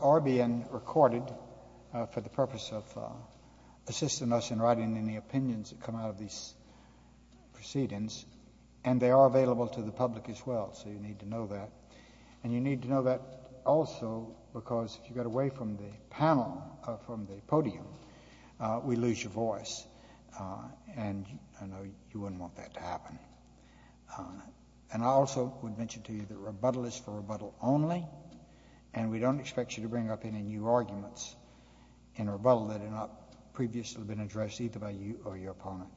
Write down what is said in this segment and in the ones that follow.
are being recorded for the purpose of assisting us in writing any opinions that come out of these proceedings, and they are available to the public as well, so you need to know that. And you need to know that also because if you get away from the panel, from the podium, we lose your voice, and I know you wouldn't want that to happen. And I also would mention to you that rebuttal is for rebuttal only, and we don't expect you to bring up any new arguments in rebuttal that have not previously been addressed either by you or your opponent.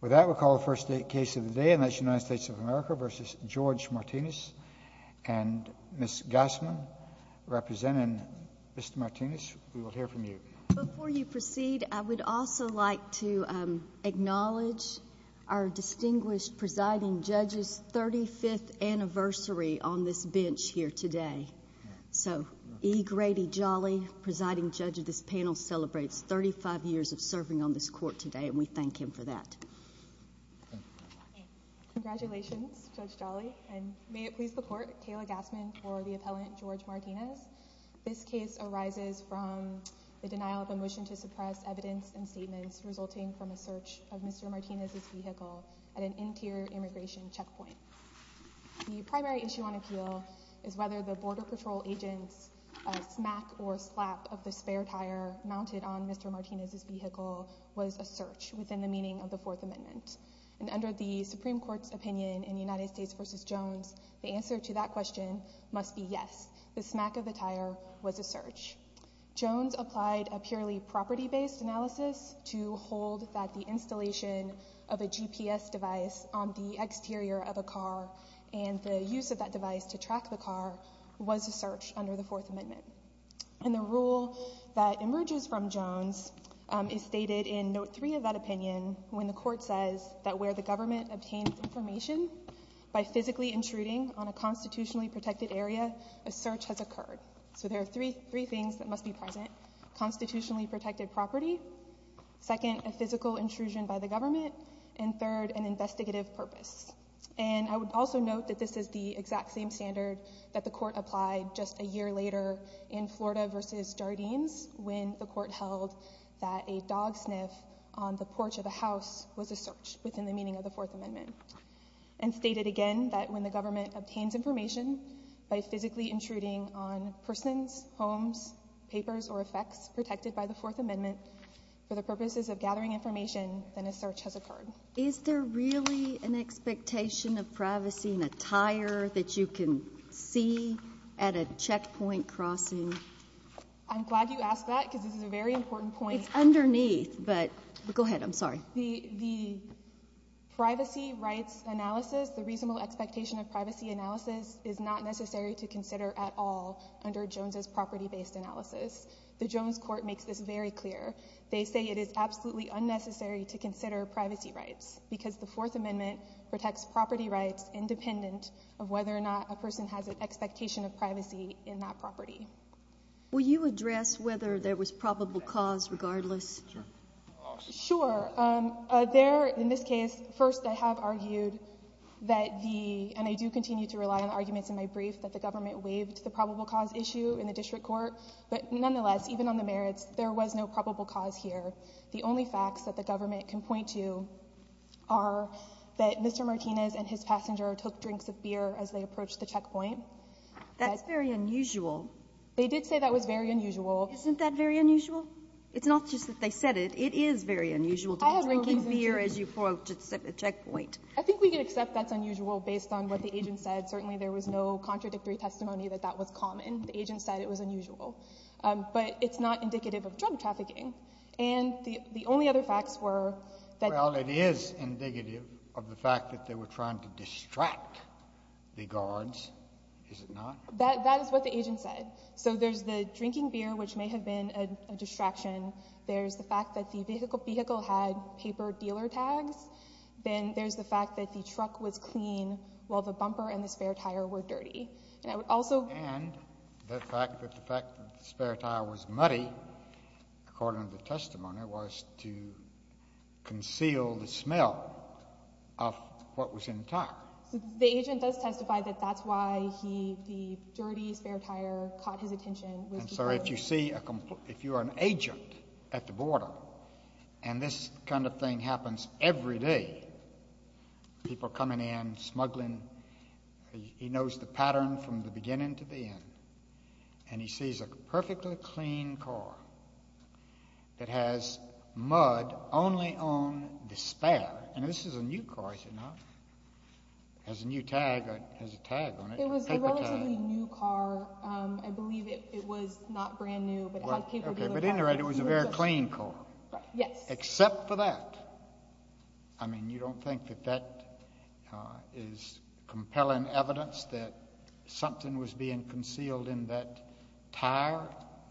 With that, we'll call the first case of the day, and that's United States of America v. George Martinez. And Ms. Gassman, representing Mr. Martinez, we will hear from you. Before you proceed, I would also like to acknowledge our distinguished presiding judges, 35th anniversary on this bench here today. So E. Grady Jolly, presiding judge of this panel, celebrates 35 years of serving on this court today, and we thank him for that. Congratulations, Judge Jolly, and may it please the Court, Kayla Gassman for the appellant George Martinez. This case arises from the denial of a motion to suppress evidence and statements resulting from a search of Mr. Martinez's vehicle at an interior immigration checkpoint. The primary issue on appeal is whether the Border Patrol agent's smack or slap of the spare tire mounted on Mr. Martinez's vehicle was a search within the meaning of the Fourth Amendment. And under the Supreme Court's opinion in United States v. Jones, the answer to that question must be yes. The smack of the tire was a search. Jones applied a purely property-based analysis to hold that the installation of a GPS device on the exterior of a car and the use of that device to track the car was a search under the Fourth Amendment. And the rule that emerges from Jones is stated in Note 3 of that opinion when the Court says that where the government obtains information by physically intruding on a constitutionally protected area, a search has occurred. So there are three things that must be present. Constitutionally protected property, second, a physical intrusion by the government, and third, an investigative purpose. And I would also note that this is the exact same standard that the Court applied just a year later in Florida v. Jardines when the Court held that a dog sniff on the porch of a house was a search within the meaning of the Fourth Amendment. And stated again that when the government obtains information by physically intruding on persons, homes, papers, or effects protected by the Fourth Amendment for the purposes of gathering information, then a search has occurred. Is there really an expectation of privacy in a tire that you can see at a checkpoint crossing? I'm glad you asked that because this is a very important point. It's underneath, but go ahead. I'm sorry. The privacy rights analysis, the reasonable expectation of privacy analysis is not necessary to consider at all under Jones's property-based analysis. The Jones Court makes this very clear. They say it is absolutely unnecessary to consider privacy rights because the Fourth Amendment protects property rights independent of whether or not a person has an expectation of privacy in that property. Will you address whether there was probable cause regardless? Sure. Sure. There, in this case, first, I have argued that the, and I do continue to rely on arguments in my brief that the government waived the probable cause issue in the district court. But nonetheless, even on the merits, there was no probable cause here. The only facts that the government can point to are that Mr. Martinez and his passenger took drinks of beer as they approached the checkpoint. That's very unusual. They did say that was very unusual. Isn't that very unusual? It's not just that they said it. It is very unusual to be drinking beer as you approach a checkpoint. I think we can accept that's unusual based on what the agent said. Certainly, there was no contradictory testimony that that was common. The agent said it was unusual. But it's not indicative of drug trafficking. And the only other facts were that— Well, it is indicative of the fact that they were trying to distract the guards, is it not? That is what the agent said. So there's the drinking beer, which may have been a distraction. There's the fact that the vehicle had paper dealer tags. Then there's the fact that the vehicle was dirty. And the fact that the spare tire was muddy, according to the testimony, was to conceal the smell of what was in the tire. The agent does testify that that's why the dirty spare tire caught his attention. And so if you are an agent at the border and this kind of thing happens every day, people have a pattern from the beginning to the end. And he sees a perfectly clean car that has mud only on the spare. And this is a new car, is it not? It has a new tag. It has a tag on it, a paper tag. It was a relatively new car. I believe it was not brand new, but it had paper dealer tags. But in the end, it was a very clean car. Yes. Except for that, I mean, you don't think that that is compelling evidence that something was being concealed in that tire,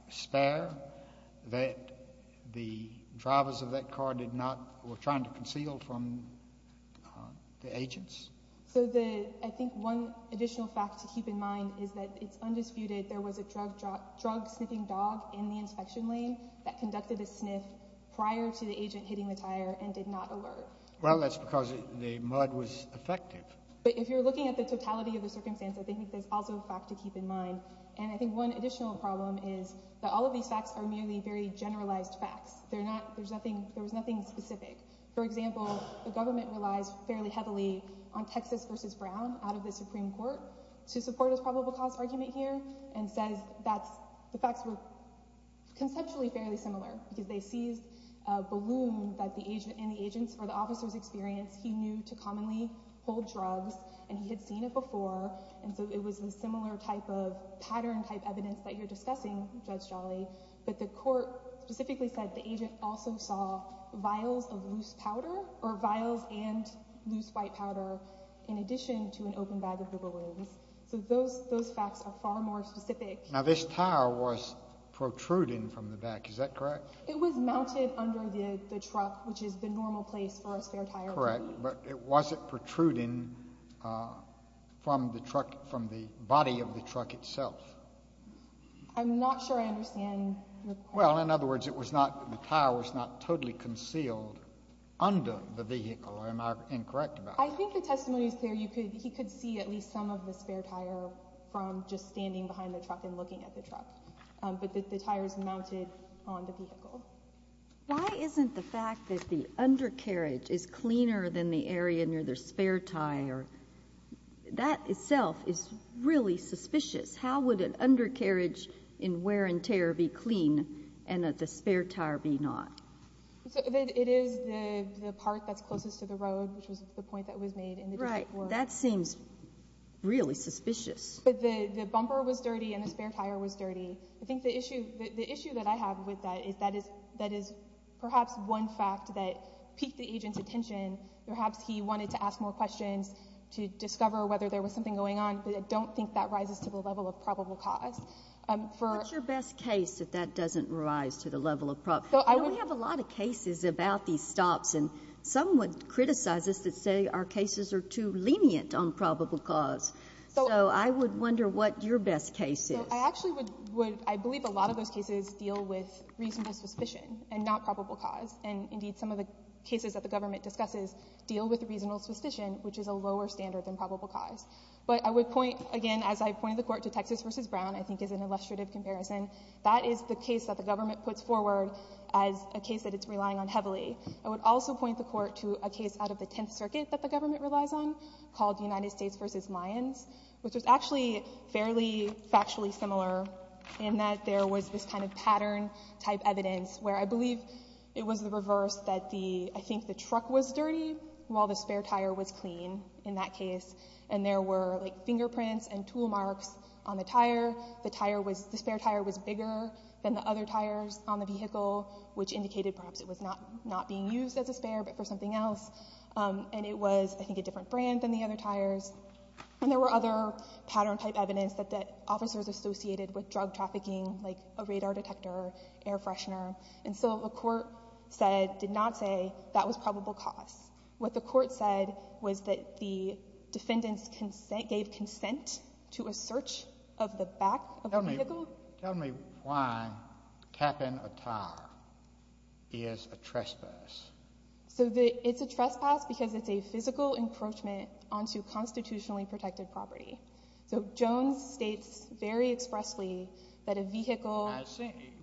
spare, that the drivers of that car did not, were trying to conceal from the agents? So the, I think one additional fact to keep in mind is that it's undisputed there was a drug sniffing dog in the inspection lane that conducted a sniff prior to the agent hitting the tire and did not alert. Well, that's because the mud was effective. But if you're looking at the totality of the circumstance, I think there's also a fact to keep in mind. And I think one additional problem is that all of these facts are merely very generalized facts. They're not, there's nothing, there was nothing specific. For example, the government relies fairly heavily on Texas versus Brown out of the Supreme Court to support this probable cause argument here and says that the facts were conceptually fairly similar because they seized a balloon that the agent and the agents or the officers experienced he knew to commonly hold drugs and he had seen it before. And so it was a similar type of pattern type evidence that you're discussing, Judge Jolly. But the court specifically said the agent also saw vials of loose powder or vials and loose white powder in addition to an open bag of the balloons. So those, those facts are far more specific. Now this tire was protruding from the back. Is that correct? It was mounted under the truck, which is the normal place for a spare tire. Correct. But it wasn't protruding from the truck, from the body of the truck itself. I'm not sure I understand. Well in other words, it was not, the tire was not totally concealed under the vehicle. Am I incorrect about that? I think the testimony is clear. You could, he could see at least some of the spare tire from just standing behind the truck and looking at the truck, but that the tire is mounted on the vehicle. Why isn't the fact that the undercarriage is cleaner than the area near the spare tire, that itself is really suspicious. How would an undercarriage in wear and tear be clean and that the spare tire be not? So it is the part that's closest to the road, which was the point that was made in the district court. Right. That seems really suspicious. But the bumper was dirty and the spare tire was dirty. I think the issue, the issue that I have with that is that is, that is perhaps one fact that piqued the agent's attention. Perhaps he wanted to ask more questions to discover whether there was something going on, but I don't think that rises to the level of probable cause. What's your best case that that doesn't rise to the level of probable cause? We have a lot of cases about these stops and some would criticize us that say our cases are too lenient on probable cause. So I would wonder what your best case is. I actually would, would, I believe a lot of those cases deal with reasonable suspicion and not probable cause. And indeed, some of the cases that the government discusses deal with reasonable suspicion, which is a lower standard than probable cause. But I would point again, as I pointed the court to Texas versus Brown, I think is an illustrative comparison. That is the case that the government puts forward as a case that it's relying on heavily. I would also point the court to a case out of the Tenth Circuit that the government relies on called United States versus Lyons, which was actually fairly factually similar in that there was this kind of pattern type evidence where I believe it was the reverse that the, I think the truck was dirty while the spare tire was clean in that case. And there were fingerprints and tool marks on the tire. The tire was, the spare tire was bigger than the other tires on the vehicle, which indicated perhaps it was not, not being used as a spare, but for something else. And it was, I think, a different brand than the other tires. And there were other pattern type evidence that, that officers associated with drug trafficking, like a radar detector, air freshener. And so the court said, did not say that was probable cause. What the court said was that the defendants gave consent to a search of the back of the vehicle. Tell me why capping a tire is a trespass. So the, it's a trespass because it's a physical encroachment onto constitutionally protected property. So Jones states very expressly that a vehicle.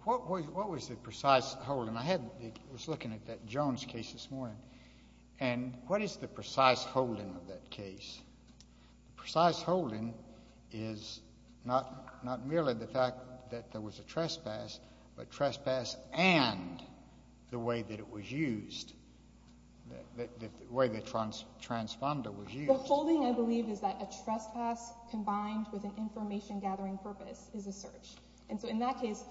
What was the precise holding? I had, I was looking at that Jones case this morning and what is the precise holding of that case? Precise holding is not, not merely the fact that there was a trespass, but trespass and the way that it was used, the way the transponder was used. The holding I believe is that a trespass combined with an information gathering purpose is a search. And so in that case,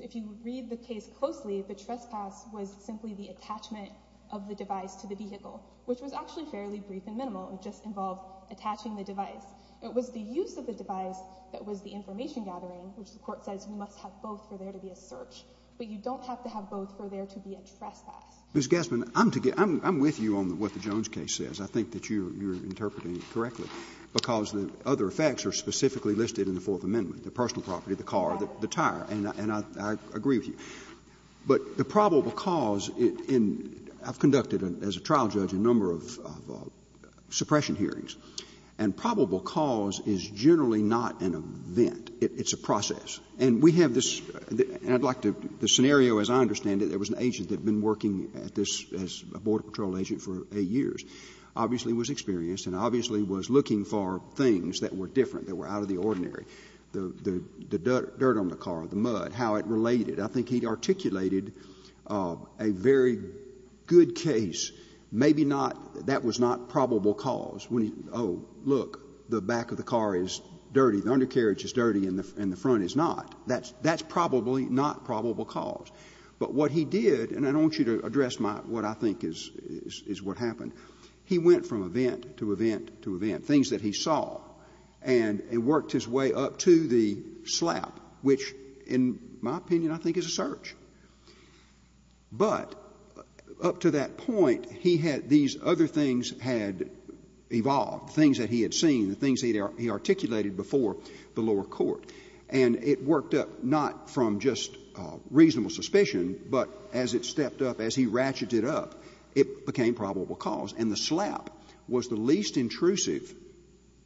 if you read the case closely, the trespass was simply the attachment of the device to the vehicle, which was actually fairly brief and minimal. It just involved attaching the device. It was the use of the device that was the information gathering, which the court says we must have both for there to be a search, but you don't have to have both for there to be a trespass. Ms. Gassman, I'm with you on what the Jones case says. I think that you're interpreting it correctly because the other effects are specifically listed in the Fourth Amendment, the personal property, the car, the tire, and I agree with you. But the probable cause in, I've conducted as a trial judge a number of suppression hearings, and probable cause is generally not an event. It's a process. And we have this, and I'd like to, the scenario as I understand it, there was an agent that had been working at this as a border patrol agent for 8 years, obviously was experienced and obviously was looking for things that were different that were out of the ordinary, the dirt on the car, the mud, how it related. I think he articulated a very good case. Maybe not, that was not probable cause. Oh, look, the back of the car is dirty, the undercarriage is dirty, and the front is not. That's probably not probable cause. But what he did, and I don't want you to address my, what I think is what happened. He went from event to event to event, things that he saw, and worked his way up to the slap, which in my opinion I think is a search. But up to that point, he had, these other things had evolved, things that he had seen, the things that he articulated before the lower court. And it worked up not from just reasonable suspicion, but as it stepped up, as he ratcheted up, it became probable cause. And the slap was the least intrusive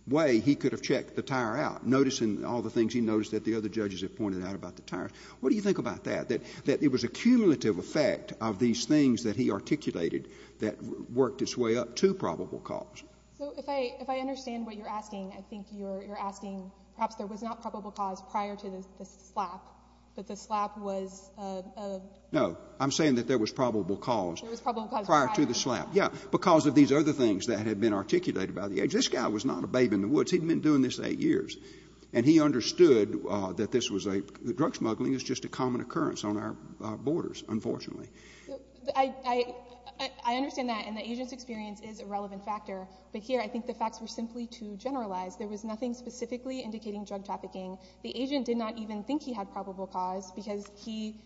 way he could have checked the tire out, noticing all the things he noticed that the other judges had pointed out about the tires. What do you think about that? That it was a cumulative effect of these things that he articulated that worked its way up to probable cause? So if I understand what you're asking, I think you're asking, perhaps there was not probable cause prior to the slap, but the slap was a... No. There was probable cause prior to the slap. Prior to the slap, yeah. Because of these other things that had been articulated by the agent. This guy was not a babe in the woods. He'd been doing this eight years. And he understood that this was a, that drug smuggling is just a common occurrence on our borders, unfortunately. I understand that, and the agent's experience is a relevant factor. But here, I think the facts were simply too generalized. There was nothing specifically indicating drug trafficking. The agent did not even think he had probable cause, because he,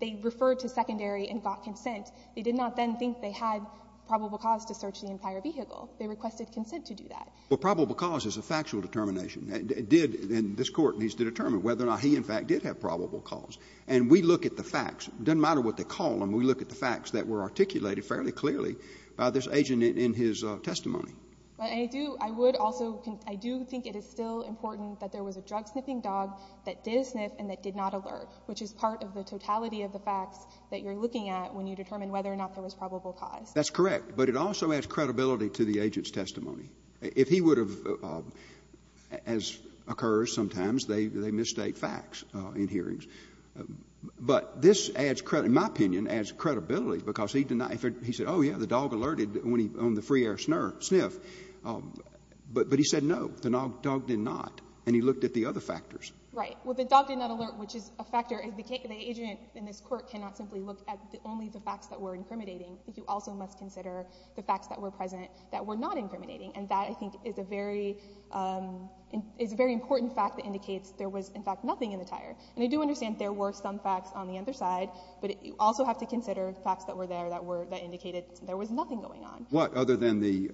they referred to secondary and got consent. They did not then think they had probable cause to search the entire vehicle. They requested consent to do that. Well, probable cause is a factual determination. It did, and this Court needs to determine whether or not he, in fact, did have probable cause. And we look at the facts. It doesn't matter what they call them. We look at the facts that were articulated fairly clearly by this agent in his testimony. But I do, I would also, I do think it is still important that there was a drug-sniffing dog that did sniff and that did not alert, which is part of the totality of the facts that you're looking at when you determine whether or not there was probable cause. That's correct. But it also adds credibility to the agent's testimony. If he would have, as occurs sometimes, they, they misstate facts in hearings. But this adds credibility, in my opinion, adds credibility, because he did not, he said, oh, yeah, the dog alerted when he, on the free air sniff. But he said no, the dog did not. And he looked at the other factors. Right. Well, the dog did not alert, which is a factor. The agent in this Court cannot simply look at only the facts that were incriminating. You also must consider the facts that were present that were not incriminating. And that, I think, is a very, is a very important fact that indicates there was, in fact, nothing in the tire. And I do understand there were some facts on the other side, but you also have to consider the facts that were there that were, that indicated there was nothing going on. What other than the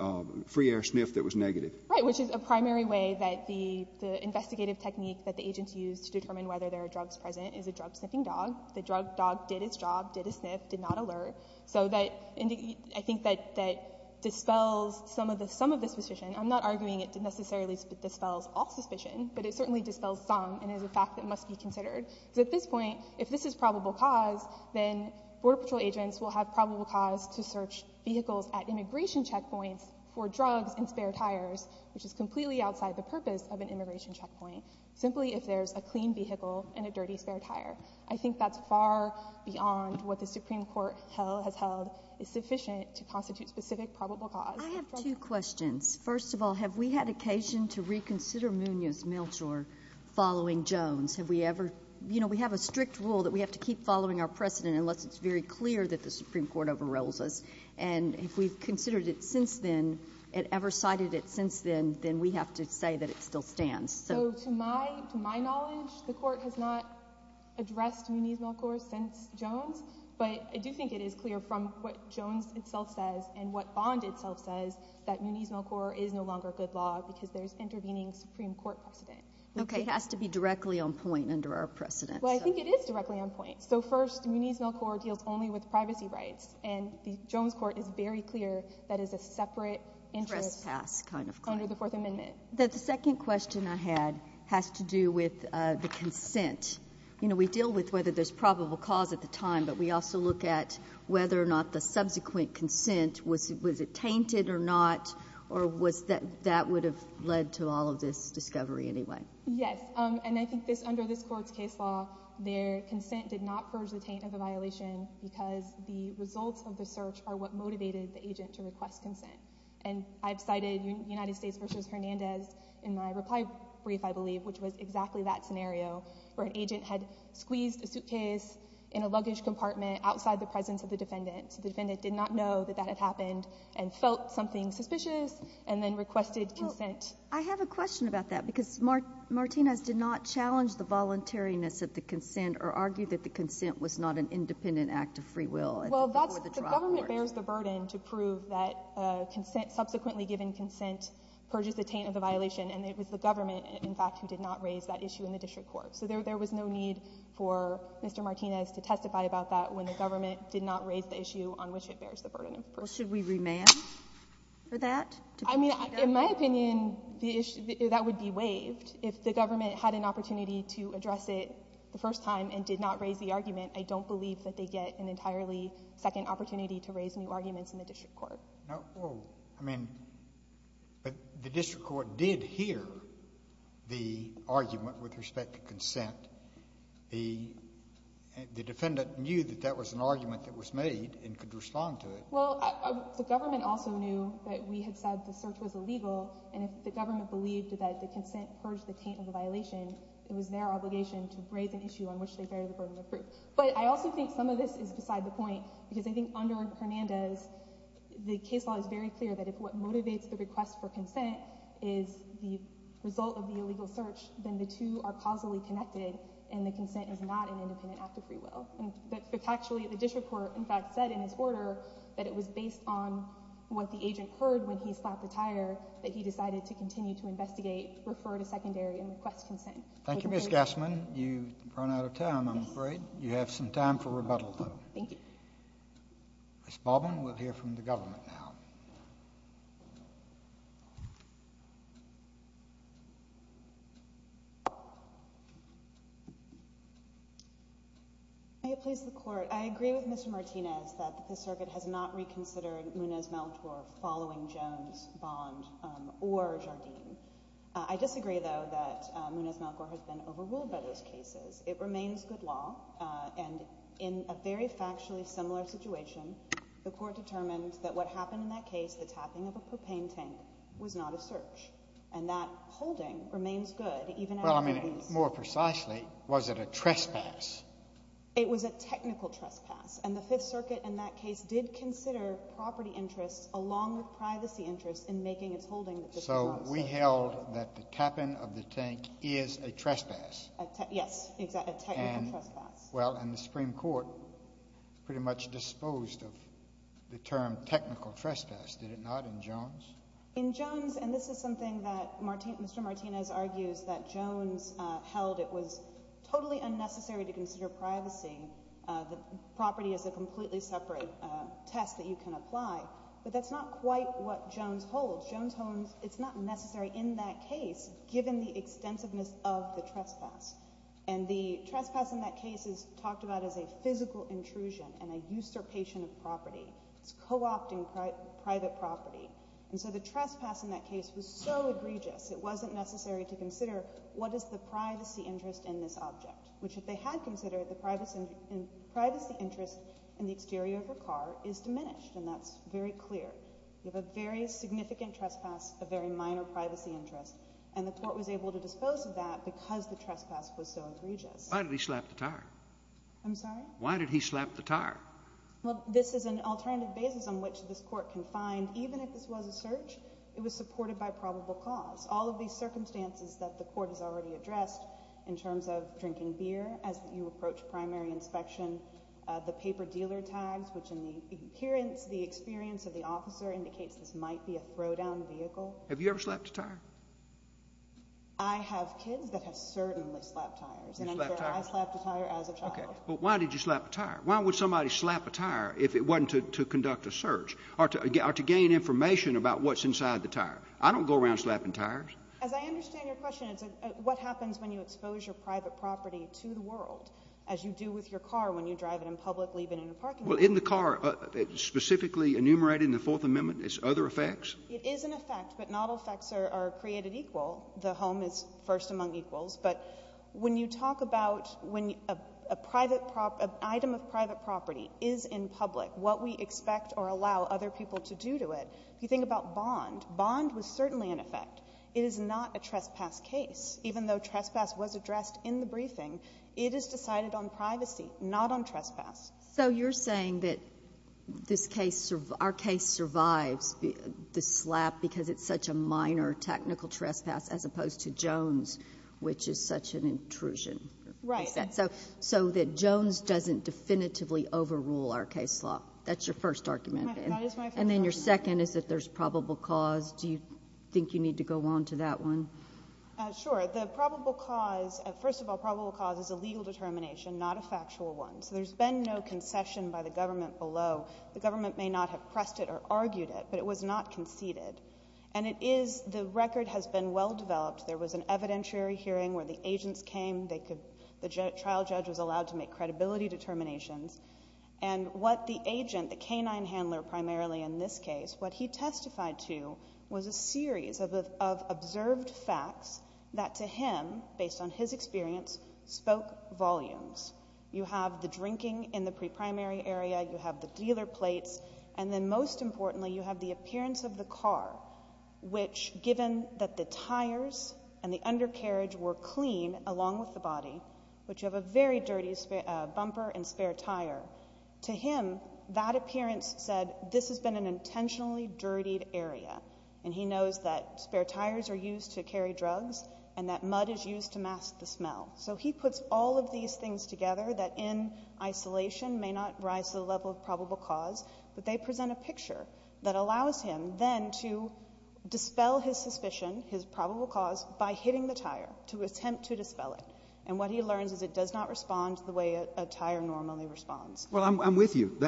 free air sniff that was negative? Right, which is a primary way that the, the investigative technique that the agents used to determine whether there are drugs present is a drug sniffing dog. The drug dog did its job, did a sniff, did not alert. So that, I think that, that dispels some of the, some of the suspicion. I'm not arguing it necessarily dispels all suspicion, but it certainly dispels some and is a fact that must be considered. Because at this point, if this is probable cause, then Border Patrol agents will have probable cause to search vehicles at immigration checkpoints for drugs and spare tires, which is completely outside the purpose of an immigration checkpoint, simply if there's a clean vehicle and a dirty spare tire. I think that's far beyond what the Supreme Court has held is sufficient to constitute specific probable cause. I have two questions. First of all, have we had occasion to reconsider Munoz-Milchor following Jones? Have we ever, you know, we have a strict rule that we have to keep following our precedent unless it's very clear that the Supreme Court overrules us. And if we've considered it since then, and ever cited it since then, then we have to say that it still stands. So to my, to my knowledge, the Court has not addressed Munoz-Milchor since Jones, but I do think it is clear from what Jones itself says and what Bond itself says that Munoz-Milchor is no longer good law because there's intervening Supreme Court precedent. Okay. It has to be directly on point under our precedent. Well, I think it is directly on point. So first Munoz-Milchor deals only with privacy rights and the Jones Court is very clear that is a separate interest under the Fourth Amendment. The second question I had has to do with the consent. You know, we deal with whether there's probable cause at the time, but we also look at whether or not the subsequent consent was, was it tainted or not? Or was that, that would have led to all of this discovery anyway? Yes. And I think this, under this Court's case law, their consent did not purge the taint of the violation because the results of the search are what motivated the agent to request consent. And I've cited United States v. Hernandez in my reply brief, I believe, which was exactly that scenario where an agent had squeezed a suitcase in a luggage compartment outside the presence of the defendant. So the defendant did not know that that had happened and felt something suspicious and then requested consent. I have a question about that because Martinez did not challenge the voluntariness of the consent or argue that the consent was not an independent act of free will before the Well, that's, the government bears the burden to prove that consent, subsequently given consent purges the taint of the violation and it was the government, in fact, who did not raise that issue in the district court. So there, there was no need for Mr. Martinez to testify about that when the government did not raise the issue on which it bears the burden of purging. Well, should we remand for that? I mean, in my opinion, the issue, that would be waived. If the government had an opportunity to address it the first time and did not raise the argument, I don't believe that they get an entirely second opportunity to raise new arguments in the district court. No, well, I mean, the district court did hear the argument with respect to consent. The defendant knew that that was an argument that was made and could respond to it. Well, the government also knew that we had said the search was illegal. And if the government believed that the consent purged the taint of the violation, it was their obligation to raise an issue on which they bear the burden of proof. But I also think some of this is beside the point, because I think under Hernandez, the case law is very clear that if what motivates the request for consent is the result of the illegal search, then the two are causally connected and the consent is not an independent act of free will. But it's actually, the district court, in fact, said in its order that it was based on what the agent heard when he slapped the tire, that he decided to continue to investigate, refer to secondary, and request consent. Thank you, Ms. Gassman. You've run out of time, I'm afraid. You have some time for rebuttal, though. Thank you. Ms. Baldwin, we'll hear from the government now. May it please the Court, I agree with Mr. Martinez that the circuit has not reconsidered Munez-Malcor following Jones, Bond, or Jardim. I disagree, though, that Munez-Malcor has been overruled by those cases. It remains good law and in a very factually similar situation, the Court determined that what happened in that case, the tapping of a propane tank, was not a search. And that holding remains good, even after the release. Well, I mean, more precisely, was it a trespass? It was a technical trespass. And the Fifth Circuit in that case did consider property interests along with privacy interests in making its holding the dispossession. So we held that the tapping of the tank is a trespass. Yes, a technical trespass. Well, and the Supreme Court pretty much disposed of the term technical trespass, did it not, in Jones? In Jones, and this is something that Mr. Martinez argues, that Jones held it was totally unnecessary to consider privacy. The property is a completely separate test that you can apply. But that's not quite what Jones holds. Jones holds it's not necessary in that case, given the extensiveness of the trespass. And the trespass in that case is talked about as a physical intrusion and a usurpation of property. It's co-opting private property. And so the trespass in that case was so egregious, it wasn't necessary to consider what is the privacy interest in this object, which if they had considered, the privacy interest in the exterior of the car is diminished. And that's very clear. You have a very significant trespass, a very significant trespass, and you have to consider that because the trespass was so egregious. Why did he slap the tire? I'm sorry? Why did he slap the tire? Well, this is an alternative basis on which this court can find, even if this was a search, it was supported by probable cause. All of these circumstances that the court has already addressed in terms of drinking beer as you approach primary inspection, the paper dealer tags, which in the appearance, the experience of the officer indicates this might be a throw down vehicle. Have you ever slapped a tire? I have kids that have certainly slapped tires. You've slapped tires? And I'm sure I slapped a tire as a child. Okay. But why did you slap a tire? Why would somebody slap a tire if it wasn't to conduct a search or to gain information about what's inside the tire? I don't go around slapping tires. As I understand your question, it's a what happens when you expose your private property to the world, as you do with your car when you drive it in public, leave it in a parking lot? Well, in the car, specifically enumerated in the Fourth Amendment, it's other effects? It is an effect, but not all effects are created equal. The home is first among equals. But when you talk about when an item of private property is in public, what we expect or allow other people to do to it, if you think about bond, bond was certainly an effect. It is not a trespass case. Even though trespass was addressed in the briefing, it is decided on privacy, not on trespass. So you're saying that our case survives the slap because it's such a minor technical trespass as opposed to Jones, which is such an intrusion. Right. So that Jones doesn't definitively overrule our case law. That's your first argument. That is my first argument. And then your second is that there's probable cause. Do you think you need to go on to that one? Sure. The probable cause, first of all, probable cause is a legal determination, not a factual one. So there's been no concession by the government below. The government may not have pressed it or argued it, but it was not conceded. And it is, the record has been well developed. There was an evidentiary hearing where the agents came. They could, the trial judge was allowed to make credibility determinations. And what the agent, the canine handler primarily in this case, what he testified to was a series of observed facts that to him, based on his pre-primary area, you have the dealer plates. And then most importantly, you have the appearance of the car, which given that the tires and the undercarriage were clean along with the body, but you have a very dirty bumper and spare tire. To him, that appearance said this has been an intentionally dirtied area. And he knows that spare tires are used to carry drugs and that mud is used to mask the smell. So he puts all of these things together that in isolation may not rise to the level of probable cause, but they present a picture that allows him then to dispel his suspicion, his probable cause, by hitting the tire to attempt to dispel it. And what he learns is it does not respond the way a tire normally responds. Well, I'm with you.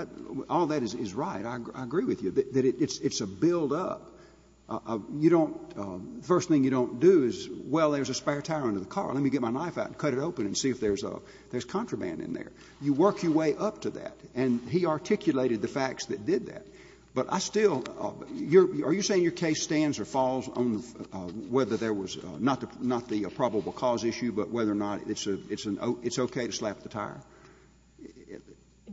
All that is right. I agree with you that it's a buildup. You don't, first thing you don't do is, well, there's a spare tire under the car. Let me get my knife out and cut it open and see if there's contraband in there. You work your way up to that. And he articulated the facts that did that. But I still — are you saying your case stands or falls on whether there was not the probable cause issue, but whether or not it's okay to slap the tire?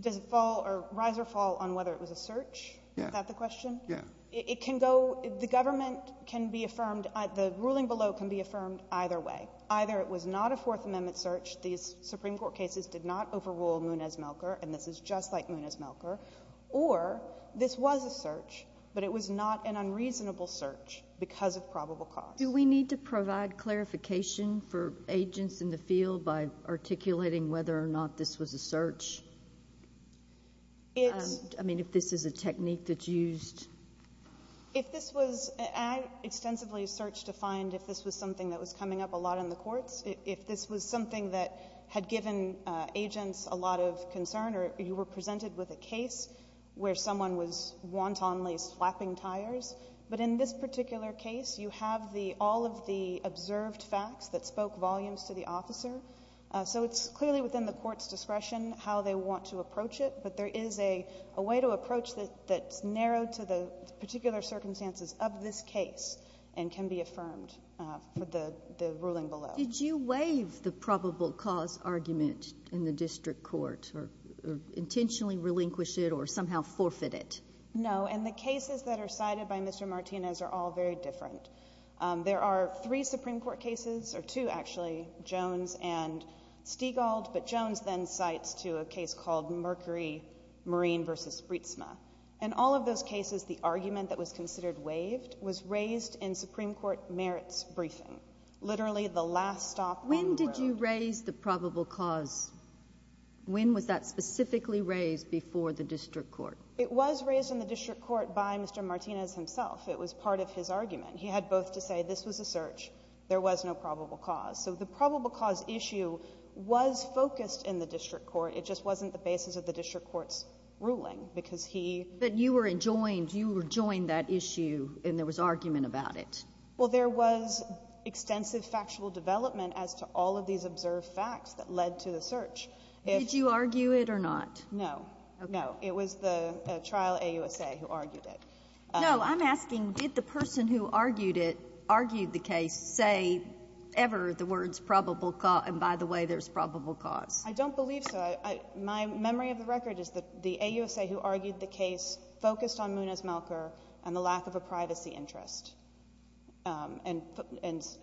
Does it fall or rise or fall on whether it was a search? Yeah. Is that the question? Yeah. It can go — the government can be affirmed — the ruling below can be affirmed either way. Either it was not a Fourth Amendment search, these Supreme Court cases did not overrule Munez-Melker, and this is just like Munez-Melker, or this was a search, but it was not an unreasonable search because of probable cause. Do we need to provide clarification for agents in the field by articulating whether or not this was a search? I mean, if this is a technique that's used? If this was — I extensively searched to find if this was something that was coming up a lot in the courts. If this was something that had given agents a lot of concern or you were presented with a case where someone was wantonly slapping tires. But in this particular case, you have the — all of the observed facts that spoke volumes to the officer. So it's clearly within the court's discretion how they want to approach it, but there is a way to approach that's narrowed to the particular circumstances of this case and can be affirmed for the ruling below. Did you waive the probable cause argument in the district court or intentionally relinquish it or somehow forfeit it? No, and the cases that are cited by Mr. Martinez are all very different. There are three Supreme Court cases — or two, actually — Jones and Stiegald, but Jones then cites to a case called Mercury Marine v. Spritzma. In all of those cases, the argument that was considered waived was raised in Supreme Court merits briefing, literally the last stop on the road. When did you raise the probable cause? When was that specifically raised before the district court? It was raised in the district court by Mr. Martinez himself. It was part of his argument. He had both to say this was a search, there was no probable cause. So the probable cause issue was focused in the district court. It just wasn't the basis of the district court's ruling, because he — But you were enjoined. You were joined that issue, and there was argument about it. Well, there was extensive factual development as to all of these observed facts that led to the search. Did you argue it or not? No. No. It was the trial AUSA who argued it. No, I'm asking, did the person who argued it, argued the case, say ever the words probable cause? And by the way, there's probable cause. I don't believe so. My memory of the record is that the AUSA who argued the case focused on Muniz-Melker and the lack of a privacy interest, and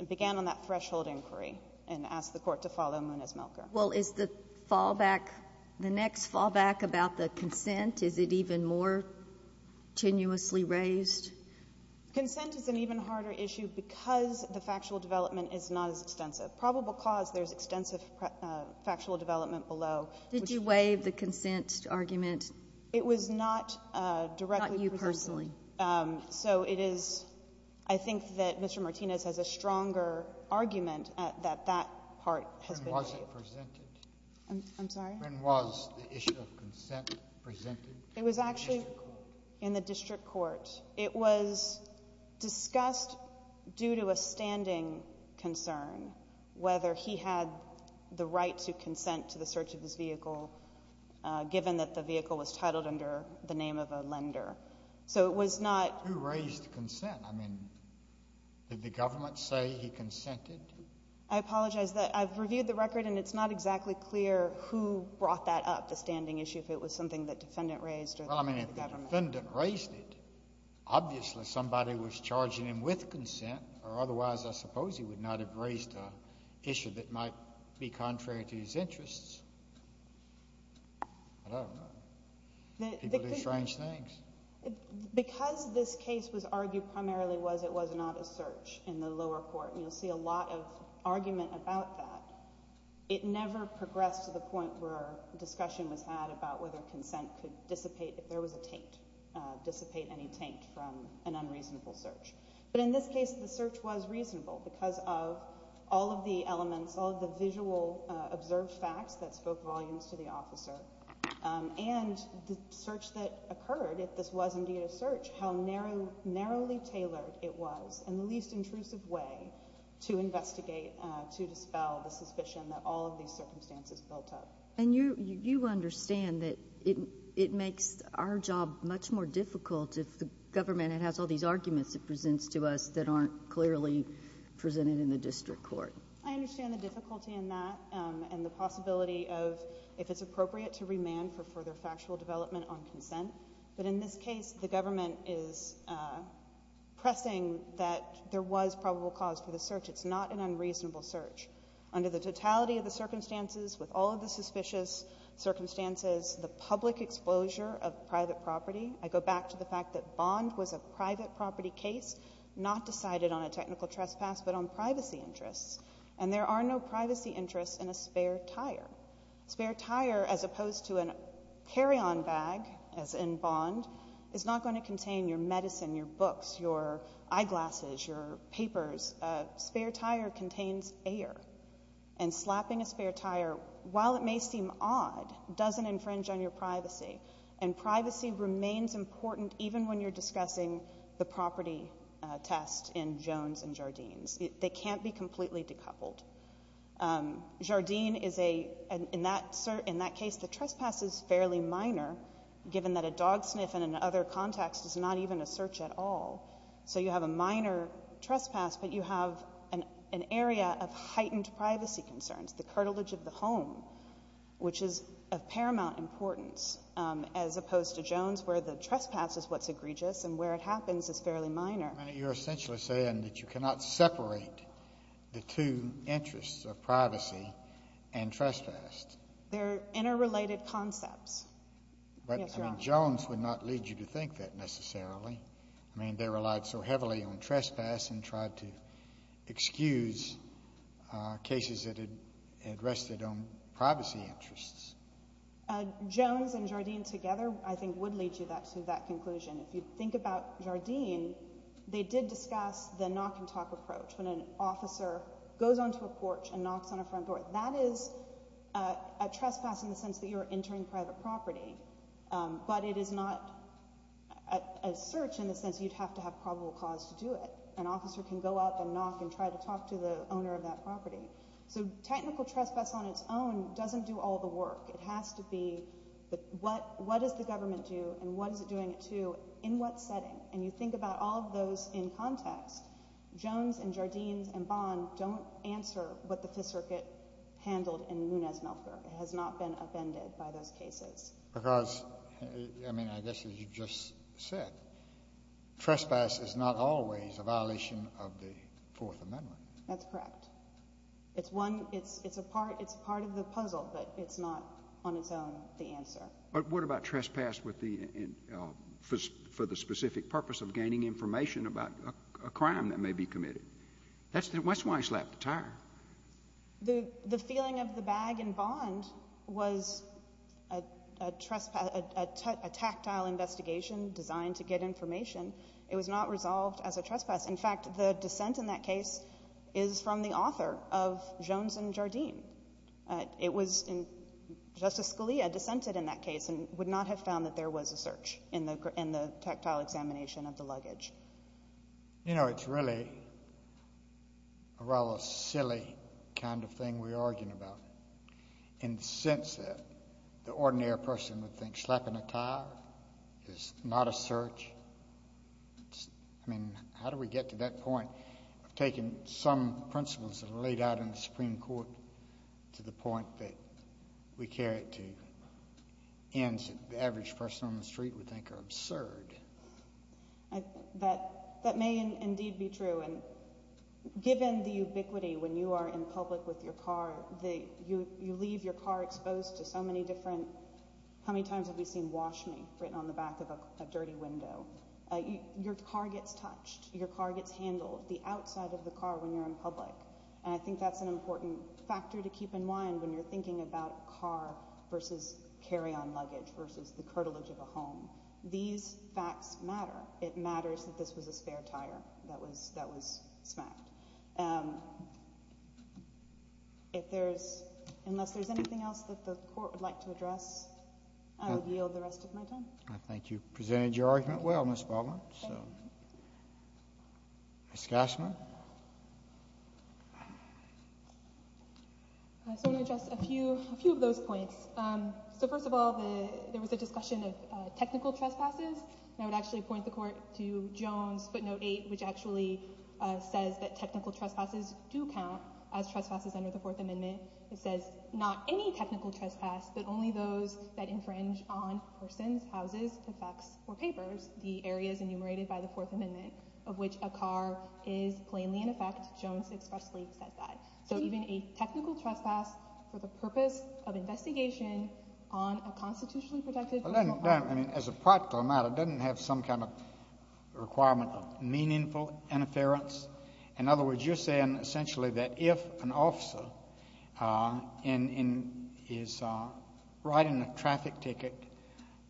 began on that threshold inquiry and asked the court to follow Muniz-Melker. Well, is the fallback, the next fallback about the consent, is it even more tenuously raised? Consent is an even harder issue because the factual development is not as extensive. Probable cause, there's extensive factual development below. Did you waive the consent argument? It was not directly presented. Not you personally. So it is — I think that Mr. Martinez has a stronger argument that that part has been waived. When was it presented? I'm sorry? When was the issue of consent presented in the district court? It was actually in the district court. It was discussed due to a standing concern, whether he had the right to consent to the search of his vehicle, given that the vehicle was titled under the name of a lender. So it was not — Who raised consent? I mean, did the government say he consented? I apologize. I've reviewed the record, and it's not exactly clear who brought that up, the standing issue, if it was something the defendant raised or the government. Well, I mean, if the defendant raised it, obviously somebody was charging him with consent, or otherwise I suppose he would not have raised an issue that might be contrary to his interests. But I don't know. People do strange things. Because this case was argued primarily was it was not a search in the lower court, and you'll see a lot of argument about that, it never progressed to the point where discussion was had about whether consent could dissipate if there was a taint, dissipate any taint from an unreasonable search. But in this case, the search was reasonable because of all of the elements, all of the visual observed facts that spoke volumes to the officer, and the search that occurred, if this was indeed a search, how narrowly tailored it was, in the least intrusive way, to investigate, to dispel the suspicion that all of these circumstances built up. And you understand that it makes our job much more difficult if the government has all these arguments it presents to us that aren't clearly presented in the district court. I understand the difficulty in that, and the possibility of if it's appropriate to remand for further factual development on consent. But in this case, the government is pressing that there was probable cause for the search. It's not an unreasonable search. Under the totality of the circumstances, with all of the suspicious circumstances, the public exposure of private property, I go back to the fact that Bond was a private property case, not decided on a technical trespass, but on privacy interests. And there are no privacy interests in a spare tire. A spare tire, as opposed to a carry-on bag, as in Bond, is not going to contain your medicine, your books, your eyeglasses, your papers. A spare tire contains air. And slapping a car may seem odd. It doesn't infringe on your privacy. And privacy remains important even when you're discussing the property test in Jones and Jardine's. They can't be completely decoupled. Jardine is a, in that case, the trespass is fairly minor, given that a dog sniff in another context is not even a search at all. So you have a minor trespass, but you have an area of heightened privacy concerns, the curtilage of the home, which is of paramount importance, as opposed to Jones, where the trespass is what's egregious, and where it happens is fairly minor. I mean, you're essentially saying that you cannot separate the two interests of privacy and trespass. They're interrelated concepts. Yes, Your Honor. But, I mean, Jones would not lead you to think that, necessarily. I mean, they relied so much on the fact that Jones and Jardine were trying to excuse cases that had rested on privacy interests. Jones and Jardine together, I think, would lead you to that conclusion. If you think about Jardine, they did discuss the knock-and-talk approach, when an officer goes onto a porch and knocks on a front door. That is a trespass in the sense that you're entering private property. But it is not a search in the sense you'd have to have probable cause to do it. An officer can go up and knock and try to talk to the owner of that property. So technical trespass on its own doesn't do all the work. It has to be, what does the government do and what is it doing it to, in what setting? And you think about all of those in context, Jones and Jardine and Bond don't answer what the Fifth Circuit handled in Nunez-Melker. It has not been upended by those cases. Because, I mean, I guess as you just said, trespass is not always a violation of the Fourth Amendment. That's correct. It's one, it's a part of the puzzle, but it's not on its own the answer. But what about trespass for the specific purpose of gaining information about a crime that may be committed? That's why he slapped the tire. The feeling of the bag in Bond was a tactile investigation designed to get information. It was not resolved as a trespass. In fact, the dissent in that case is from the author of Jones and Jardine. It was, Justice Scalia dissented in that case and would not have found that there was a search in the tactile examination of the luggage. You know, it's really a rather silly kind of thing we're arguing about in the sense that the ordinary person would think slapping a tire is not a search. I mean, how do we get to that point of taking some principles that are laid out in the Supreme Court to the point that we carry it to the ends that the average person on the street would think are absurd? That may indeed be true. And given the ubiquity when you are in public with your car, you leave your car exposed to so many different, how many times have we seen wash me written on the back of a dirty window? Your car gets touched. Your car gets handled. The outside of the car when you're in public. And I think that's an important factor to keep in mind when you're thinking about car versus carry-on luggage versus the curtilage of a home. These facts matter. It matters that this was a spare tire that was smacked. Unless there's anything else that the court would like to address, I would yield the rest of my time. I think you presented your argument well, Ms. Baldwin. Ms. Gassman? I just want to address a few of those points. So first of all, there was a discussion of I would actually point the court to Jones footnote 8, which actually says that technical trespasses do count as trespasses under the Fourth Amendment. It says not any technical trespass, but only those that infringe on persons, houses, effects, or papers, the areas enumerated by the Fourth Amendment of which a car is plainly in effect. Jones expressly said that. So even a technical trespass for the purpose of investigation on a constitutionally It doesn't have some kind of requirement of meaningful interference. In other words, you're saying essentially that if an officer is riding a traffic ticket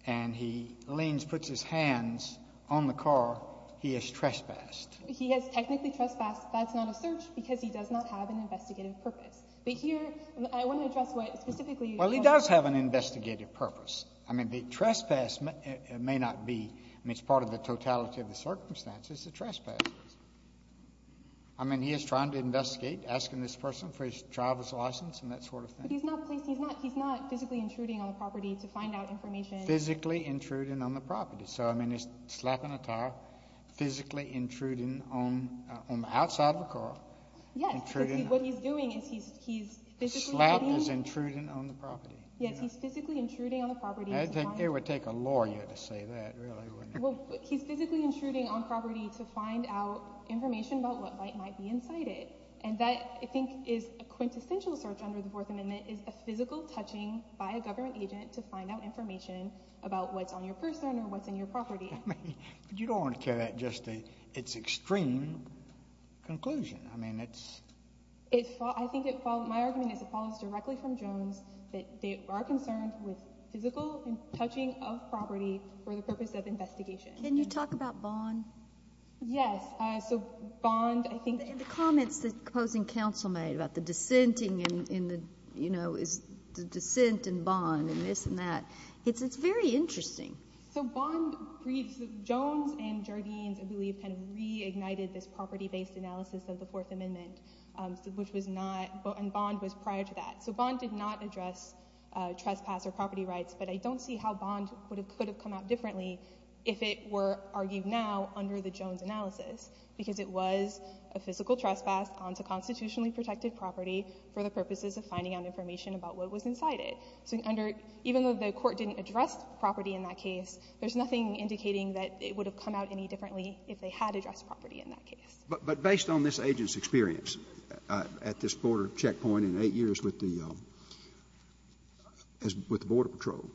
and he leans, puts his hands on the car, he has trespassed. He has technically trespassed. That's not a search because he does not have an investigative purpose. But here, I want to address what specifically you're talking about. Well, he does have an investigative purpose. I mean, the trespass may not be. I mean, it's part of the totality of the circumstances, the trespass. I mean, he is trying to investigate asking this person for his driver's license and that sort of thing. But he's not physically intruding on the property to find out information. Physically intruding on the property. So I mean, he's slapping a tire, physically intruding on the outside of the car. Yes, because what he's doing is he's physically intruding. He's intruding on the property. Yes, he's physically intruding on the property. It would take a lawyer to say that, really, wouldn't it? Well, he's physically intruding on property to find out information about what might be inside it. And that, I think, is a quintessential search under the Fourth Amendment, is a physical touching by a government agent to find out information about what's on your person or what's in your property. You don't want to carry that just to its extreme conclusion. I mean, it's... My argument is it follows directly from Jones that they are concerned with physical touching of property for the purpose of investigation. Can you talk about Bond? Yes. So Bond, I think... The comments that opposing counsel made about the dissenting and, you know, the dissent and Bond and this and that, it's very interesting. So Bond, Jones and Jardines, I believe, kind of reignited this property-based analysis of the Fourth Amendment, which was not... And Bond was prior to that. So Bond did not address trespass or property rights, but I don't see how Bond could have come out differently if it were argued now under the Jones analysis, because it was a physical trespass onto constitutionally protected property for the purposes of finding out information about what was inside it. So even though the court didn't address property in that case, there's nothing indicating that it would have come out any differently if they had addressed property in that case. But based on this agent's experience at this border checkpoint in eight years with the Border Patrol,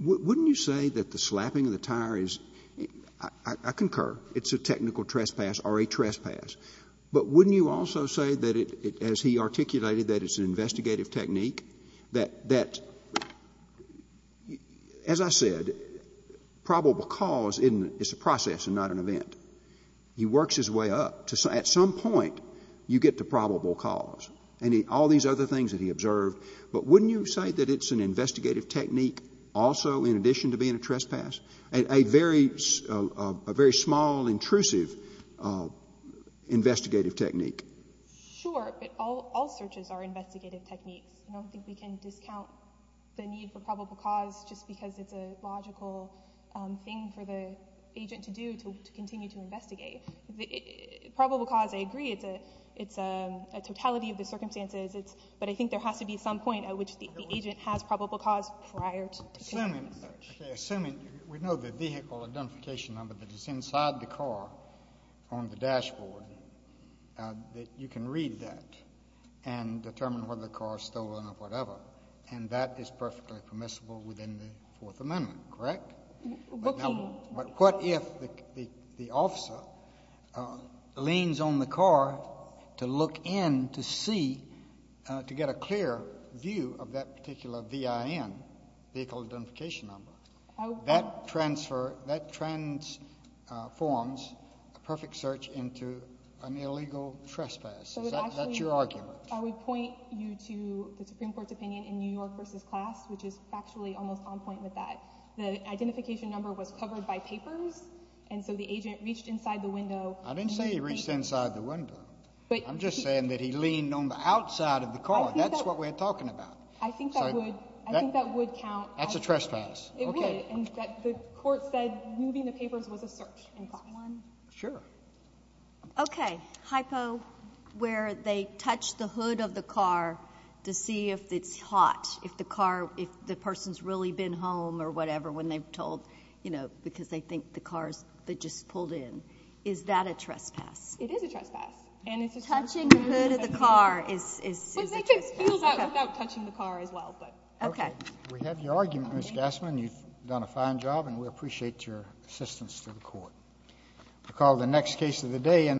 wouldn't you say that the slapping of the tire is, I concur, it's a technical trespass or a trespass, but wouldn't you also say that, as he articulated that it's an investigative technique, that, as I said, probable cause is a process and not an event? He works his way up to... At some point, you get to probable cause and all these other things that he observed, but wouldn't you say that it's an investigative technique also in addition to being a trespass, a very small, intrusive investigative technique? Sure, but all searches are investigative techniques. I don't think we can discount the need for probable cause just because it's a logical thing for the agent to do to continue to investigate. Probable cause, I agree, it's a totality of the circumstances, but I think there has to be some point at which the agent has probable cause prior to continuing the search. Assuming, we know the vehicle identification number that is inside the car on the dashboard, that you can read that and determine whether the car is stolen or whatever, and that is perfectly permissible within the Fourth Amendment, correct? But what if the officer leans on the car to look in to see, to get a clear view of that particular VIN, vehicle identification number? That transforms a perfect search into an illegal trespass. Is that your argument? I would point you to the Supreme Court's opinion in New York v. Class, which is actually almost on point with that. The identification number was covered by papers, and so the agent reached inside the window. I didn't say he reached inside the window. I'm just saying that he leaned on the outside of the car. That's what we're talking about. I think that would count. That's a trespass. It would, and the court said moving the papers was a search. Sure. Okay, hypo, where they touch the hood of the car to see if it's hot, if the person has really been home or whatever when they're told, you know, because they think the car's just pulled in. Is that a trespass? It is a trespass. Touching the hood of the car is a trespass. Well, they can feel that without touching the car as well. Okay. We have your argument, Ms. Gassman. You've done a fine job, and we appreciate your assistance to the court. We'll call the next case of the day in.